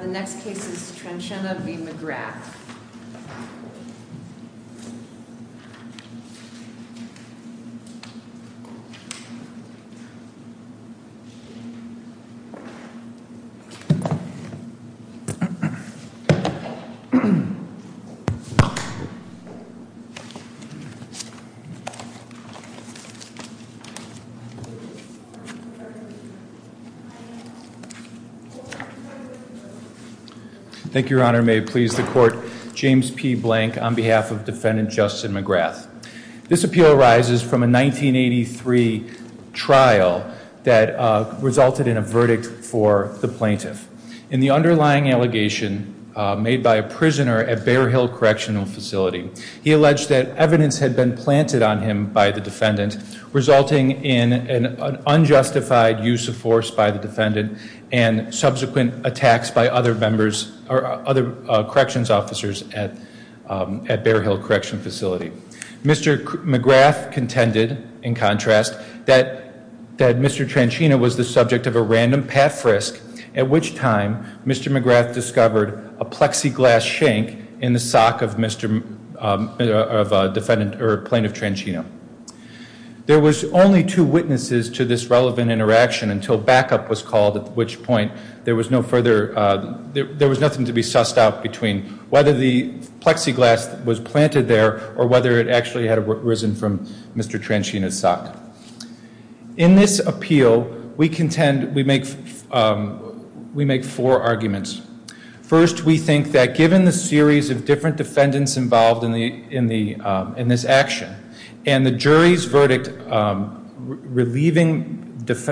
The next case is Tranchina v. McGrath. Thank you, Your Honor. May it please the court, James P. Blank on behalf of Defendant Justin McGrath. This appeal arises from a 1983 trial that resulted in a verdict for the plaintiff. In the underlying allegation made by a prisoner at Bear Hill Correctional Facility, he alleged that evidence had been planted on him by the defendant, resulting in an unjustified use of force by the defendant, and subsequent attacks by other members, other corrections officers at Bear Hill Correctional Facility. Mr. McGrath contended, in contrast, that Mr. Tranchina was the subject of a random path risk, at which time Mr. McGrath discovered a plexiglass shank in the sock of Plaintiff Tranchina. There was only two witnesses to this relevant interaction until backup was called, at which point there was nothing to be sussed out between whether the plexiglass was planted there, or whether it actually had arisen from Mr. Tranchina's sock. In this appeal, we contend, we make four arguments. First, we think that given the series of different defendants involved in this action, and the jury's verdict relieving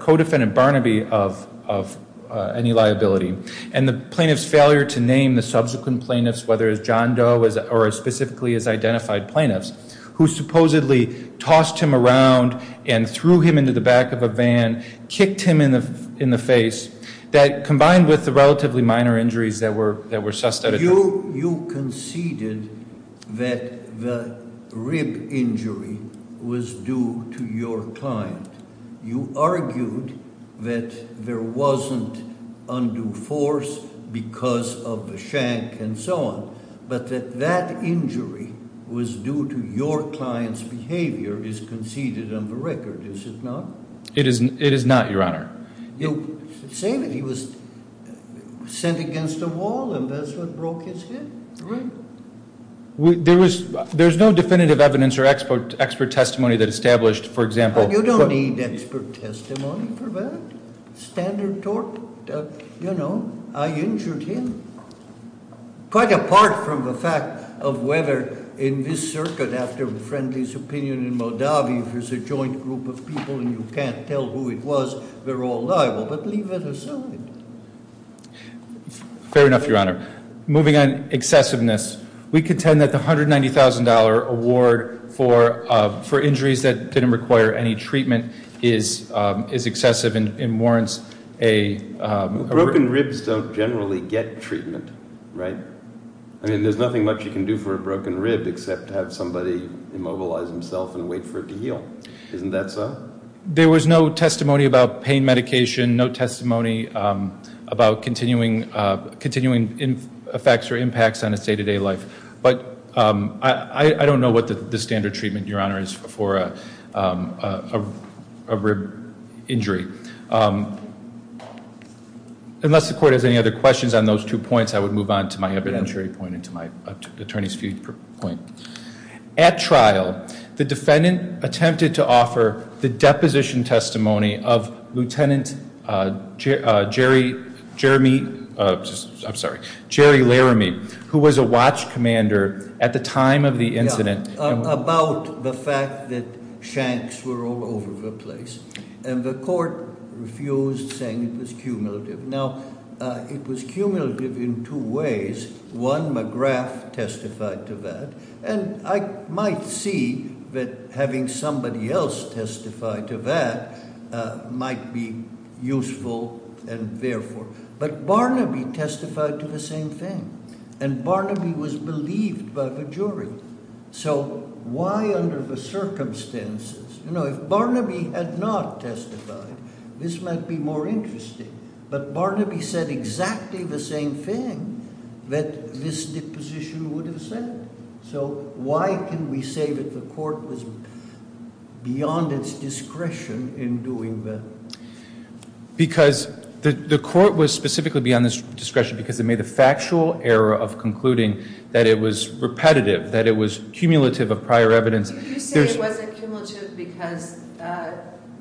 co-defendant Barnaby of any liability, and the plaintiff's failure to name the subsequent plaintiffs, whether it's John Doe or specifically his identified plaintiffs, who supposedly tossed him around and threw him into the back of a van, kicked him in the face, that combined with the relatively minor injuries that were sussed out. You conceded that the rib injury was due to your client. You argued that there wasn't undue force because of the shank and so on. But that that injury was due to your client's behavior is conceded on the record, is it not? It is not, your honor. You say that he was sent against the wall and that's what broke his hip, right? There's no definitive evidence or expert testimony that established, for example- You don't need expert testimony for that. Standard tort, I injured him. Quite apart from the fact of whether in this circuit, after Friendly's opinion in Moldavia, if there's a joint group of people and you can't tell who it was, they're all liable. But leave it as so. Fair enough, your honor. Moving on, excessiveness. We contend that the $190,000 award for injuries that didn't require any treatment is excessive and warrants a- Broken ribs don't generally get treatment, right? I mean, there's nothing much you can do for a broken rib except have somebody immobilize himself and wait for it to heal. Isn't that so? There was no testimony about pain medication, no testimony about continuing effects or impacts on his day to day life. But I don't know what the standard treatment, your honor, is for a rib injury. Unless the court has any other questions on those two points, I would move on to my evidentiary point and to my attorney's point. At trial, the defendant attempted to offer the deposition testimony of Lieutenant Jerry Laramie. Who was a watch commander at the time of the incident. About the fact that shanks were all over the place. And the court refused, saying it was cumulative. Now, it was cumulative in two ways. One, McGrath testified to that. And I might see that having somebody else testify to that might be useful and therefore. But Barnaby testified to the same thing. And Barnaby was believed by the jury. So why under the circumstances, if Barnaby had not testified, this might be more interesting. But Barnaby said exactly the same thing that this deposition would have said. So why can we say that the court was beyond its discretion in doing that? Because the court was specifically beyond its discretion because it made a factual error of concluding that it was repetitive. That it was cumulative of prior evidence. There's- You say it wasn't cumulative because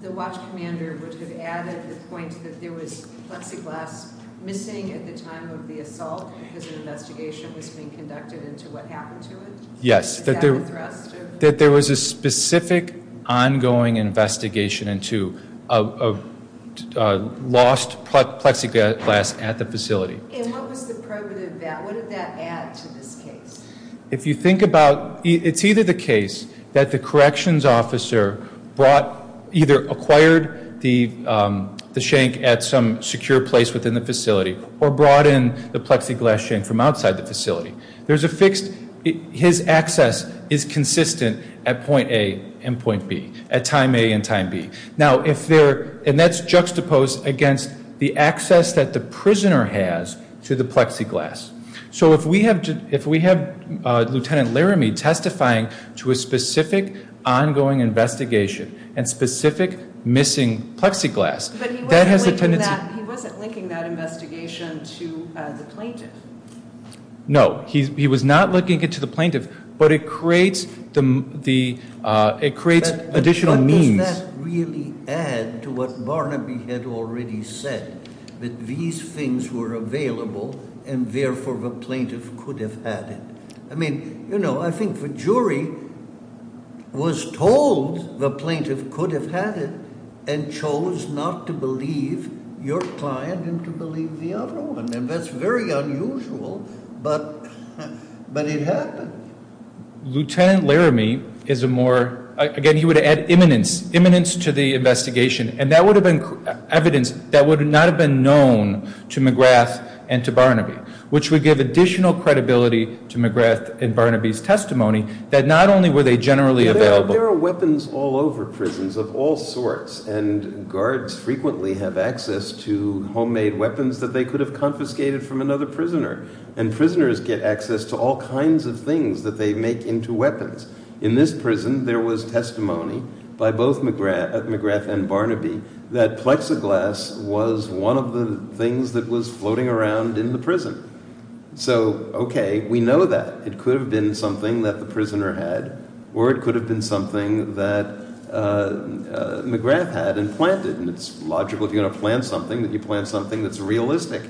the watch commander would have added the point that there was plexiglass missing at the time of the assault because an investigation was being conducted into what happened to it? Yes. Is that a thrust of- That there was a specific ongoing investigation into a lost plexiglass at the facility. And what was the probative of that? What did that add to this case? If you think about, it's either the case that the corrections officer brought, either acquired the shank at some secure place within the facility or brought in the plexiglass shank from outside the facility. There's a fixed, his access is consistent at point A and point B, at time A and time B. Now if there, and that's juxtaposed against the access that the prisoner has to the plexiglass. So if we have Lieutenant Laramie testifying to a specific ongoing investigation and specific missing plexiglass, that has a tendency- But he wasn't linking that investigation to the plaintiff. No, he was not linking it to the plaintiff, but it creates additional means- But does that really add to what Barnaby had already said, that these things were available and therefore the plaintiff could have had it? I mean, I think the jury was told the plaintiff could have had it and chose not to believe your client and to believe the other one. And that's very unusual, but it happened. Lieutenant Laramie is a more, again, he would add imminence to the investigation. And that would have been evidence that would not have been known to McGrath and to Barnaby. Which would give additional credibility to McGrath and Barnaby's testimony that not only were they generally available- There are weapons all over prisons of all sorts and guards frequently have access to homemade weapons that they could have confiscated from another prisoner. And prisoners get access to all kinds of things that they make into weapons. In this prison, there was testimony by both McGrath and Barnaby that plexiglass was one of the things that was floating around in the prison. So, okay, we know that. It could have been something that the prisoner had, or it could have been something that McGrath had and planted. And it's logical if you're going to plant something, that you plant something that's realistic.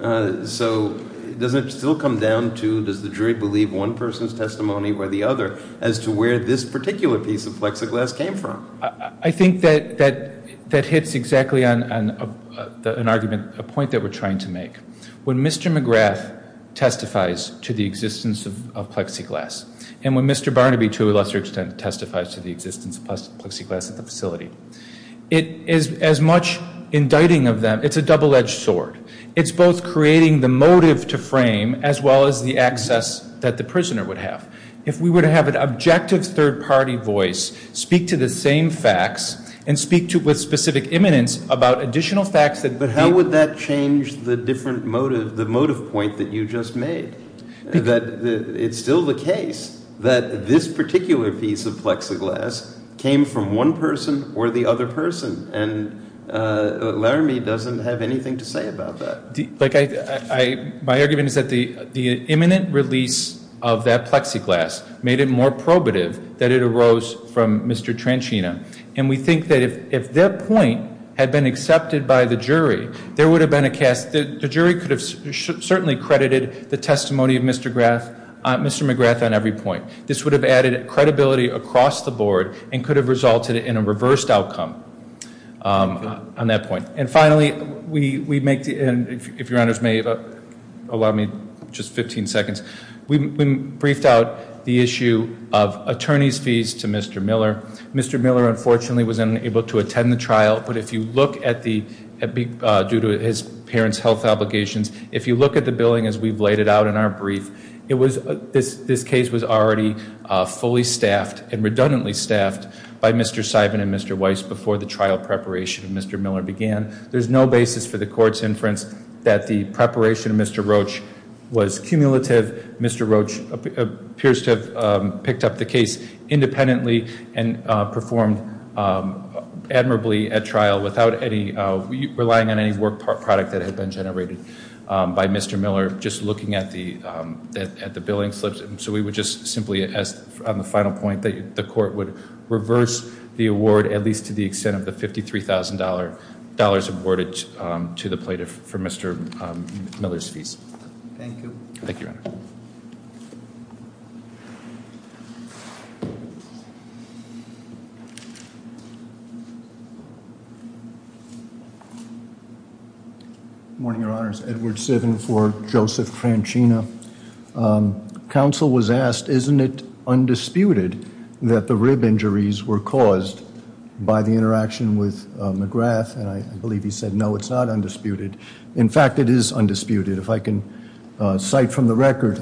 So, does it still come down to, does the jury believe one person's testimony or the other as to where this particular piece of plexiglass came from? I think that hits exactly on an argument, a point that we're trying to make. When Mr. McGrath testifies to the existence of plexiglass, and when Mr. Barnaby, to a lesser extent, testifies to the existence of plexiglass at the facility. It is as much indicting of them, it's a double edged sword. It's both creating the motive to frame, as well as the access that the prisoner would have. If we were to have an objective third party voice, speak to the same facts and speak with specific eminence about additional facts that- But how would that change the different motive, the motive point that you just made? That it's still the case that this particular piece of plexiglass came from one person or the other person. And Laramie doesn't have anything to say about that. My argument is that the imminent release of that plexiglass made it more probative that it arose from Mr. Tranchina. And we think that if their point had been accepted by the jury, there would have been a cast, the jury could have certainly credited the testimony of Mr. McGrath on every point. This would have added credibility across the board and could have resulted in a reversed outcome on that point. And finally, we make, and if your honors may allow me just 15 seconds. We briefed out the issue of attorney's fees to Mr. Miller. Mr. Miller unfortunately was unable to attend the trial, but if you look at the, due to his parent's health obligations. If you look at the billing as we've laid it out in our brief, this case was already fully staffed and redundantly staffed by Mr. Simon and Mr. Weiss before the trial preparation of Mr. Miller began. There's no basis for the court's inference that the preparation of Mr. Roach was cumulative. Mr. Roach appears to have picked up the case independently and performed admirably at trial without relying on any work product that had been generated by Mr. Miller. Just looking at the billing slips, so we would just simply ask on the final point that the court would reverse the award at least to the extent of the $53,000 awarded to the plaintiff for Mr. Miller's fees. Thank you. Thank you, your honor. Morning, your honors. Edward Sivin for Joseph Cranchina. Council was asked, isn't it undisputed that the rib injuries were caused by the interaction with McGrath, and I believe he said no, it's not undisputed. In fact, it is undisputed. If I can cite from the record,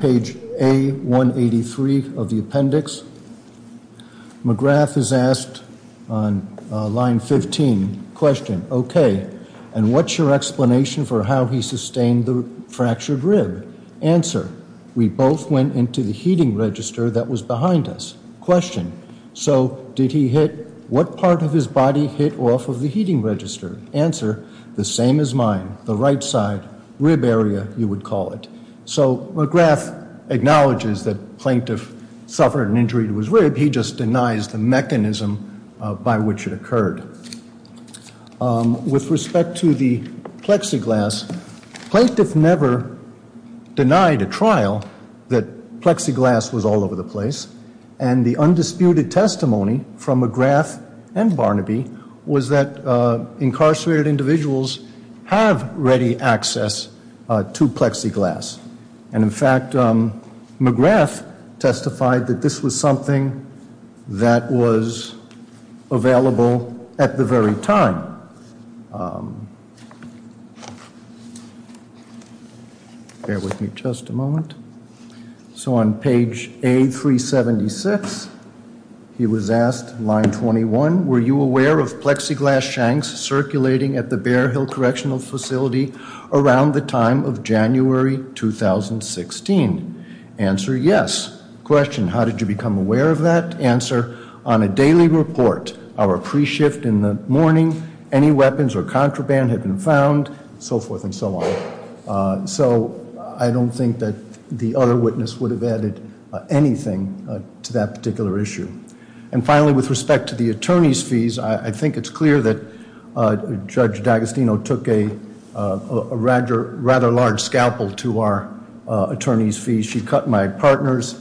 page A-183 of the appendix. McGrath is asked on line 15, question, okay, and what's your explanation for how he sustained the fractured rib? Answer, we both went into the heating register that was behind us. Question, so did he hit, what part of his body hit off of the heating register? Answer, the same as mine, the right side, rib area, you would call it. So McGrath acknowledges that plaintiff suffered an injury to his rib, he just denies the mechanism by which it occurred. With respect to the plexiglass, plaintiff never denied a trial that plexiglass was all over the place. And the undisputed testimony from McGrath and the incarcerated individuals have ready access to plexiglass. And in fact, McGrath testified that this was something that was available at the very time. Bear with me just a moment. So on page A-376, he was asked, line 21, were you aware of plexiglass shanks circulating at the Bear Hill Correctional Facility around the time of January 2016? Answer, yes. Question, how did you become aware of that? Answer, on a daily report, our pre-shift in the morning, any weapons or contraband had been found, so forth and so on. So I don't think that the other witness would have added anything to that particular issue. And finally, with respect to the attorney's fees, I think it's clear that Judge D'Agostino took a rather large scalpel to our attorney's fees. She cut my partner's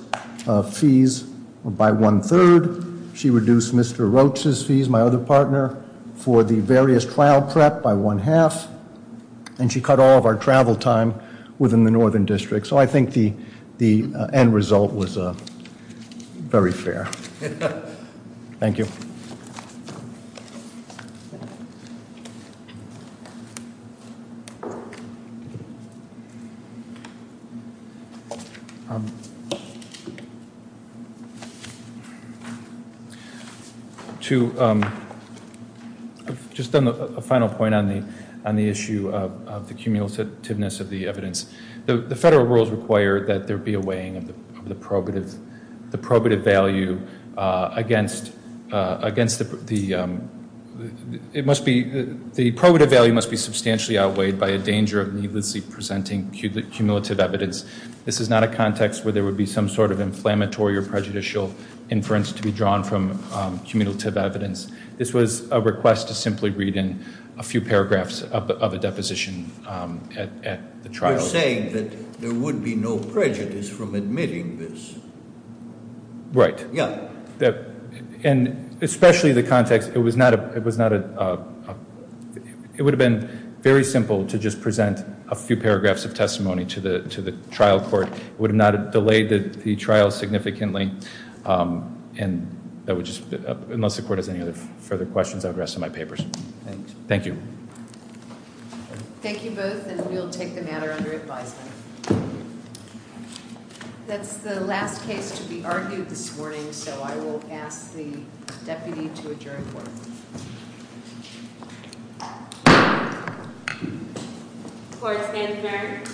fees by one-third. She reduced Mr. Roach's fees, my other partner, for the various trial prep by one-half. And she cut all of our travel time within the Northern District. So I think the end result was very fair. Thank you. I've just done a final point on the issue of the cumulativeness of the evidence. The federal rules require that there be a weighing of the probative value against the, the probative value must be substantially outweighed by a danger of needlessly presenting cumulative evidence. This is not a context where there would be some sort of inflammatory or prejudicial inference to be drawn from cumulative evidence. This was a request to simply read in a few paragraphs of a deposition at the trial. You're saying that there would be no prejudice from admitting this. Right. Yeah. And especially the context, it was not a, it was not a, it would have been very simple to just present a few paragraphs of testimony to the, to the trial court. It would not have delayed the trial significantly, and that would just, unless the court has any other further questions, I'll address them in my papers. Thank you. Thank you both, and we'll take the matter under advisement. That's the last case to be argued this morning, so I will ask the deputy to adjourn court. Court is adjourned. Thank you.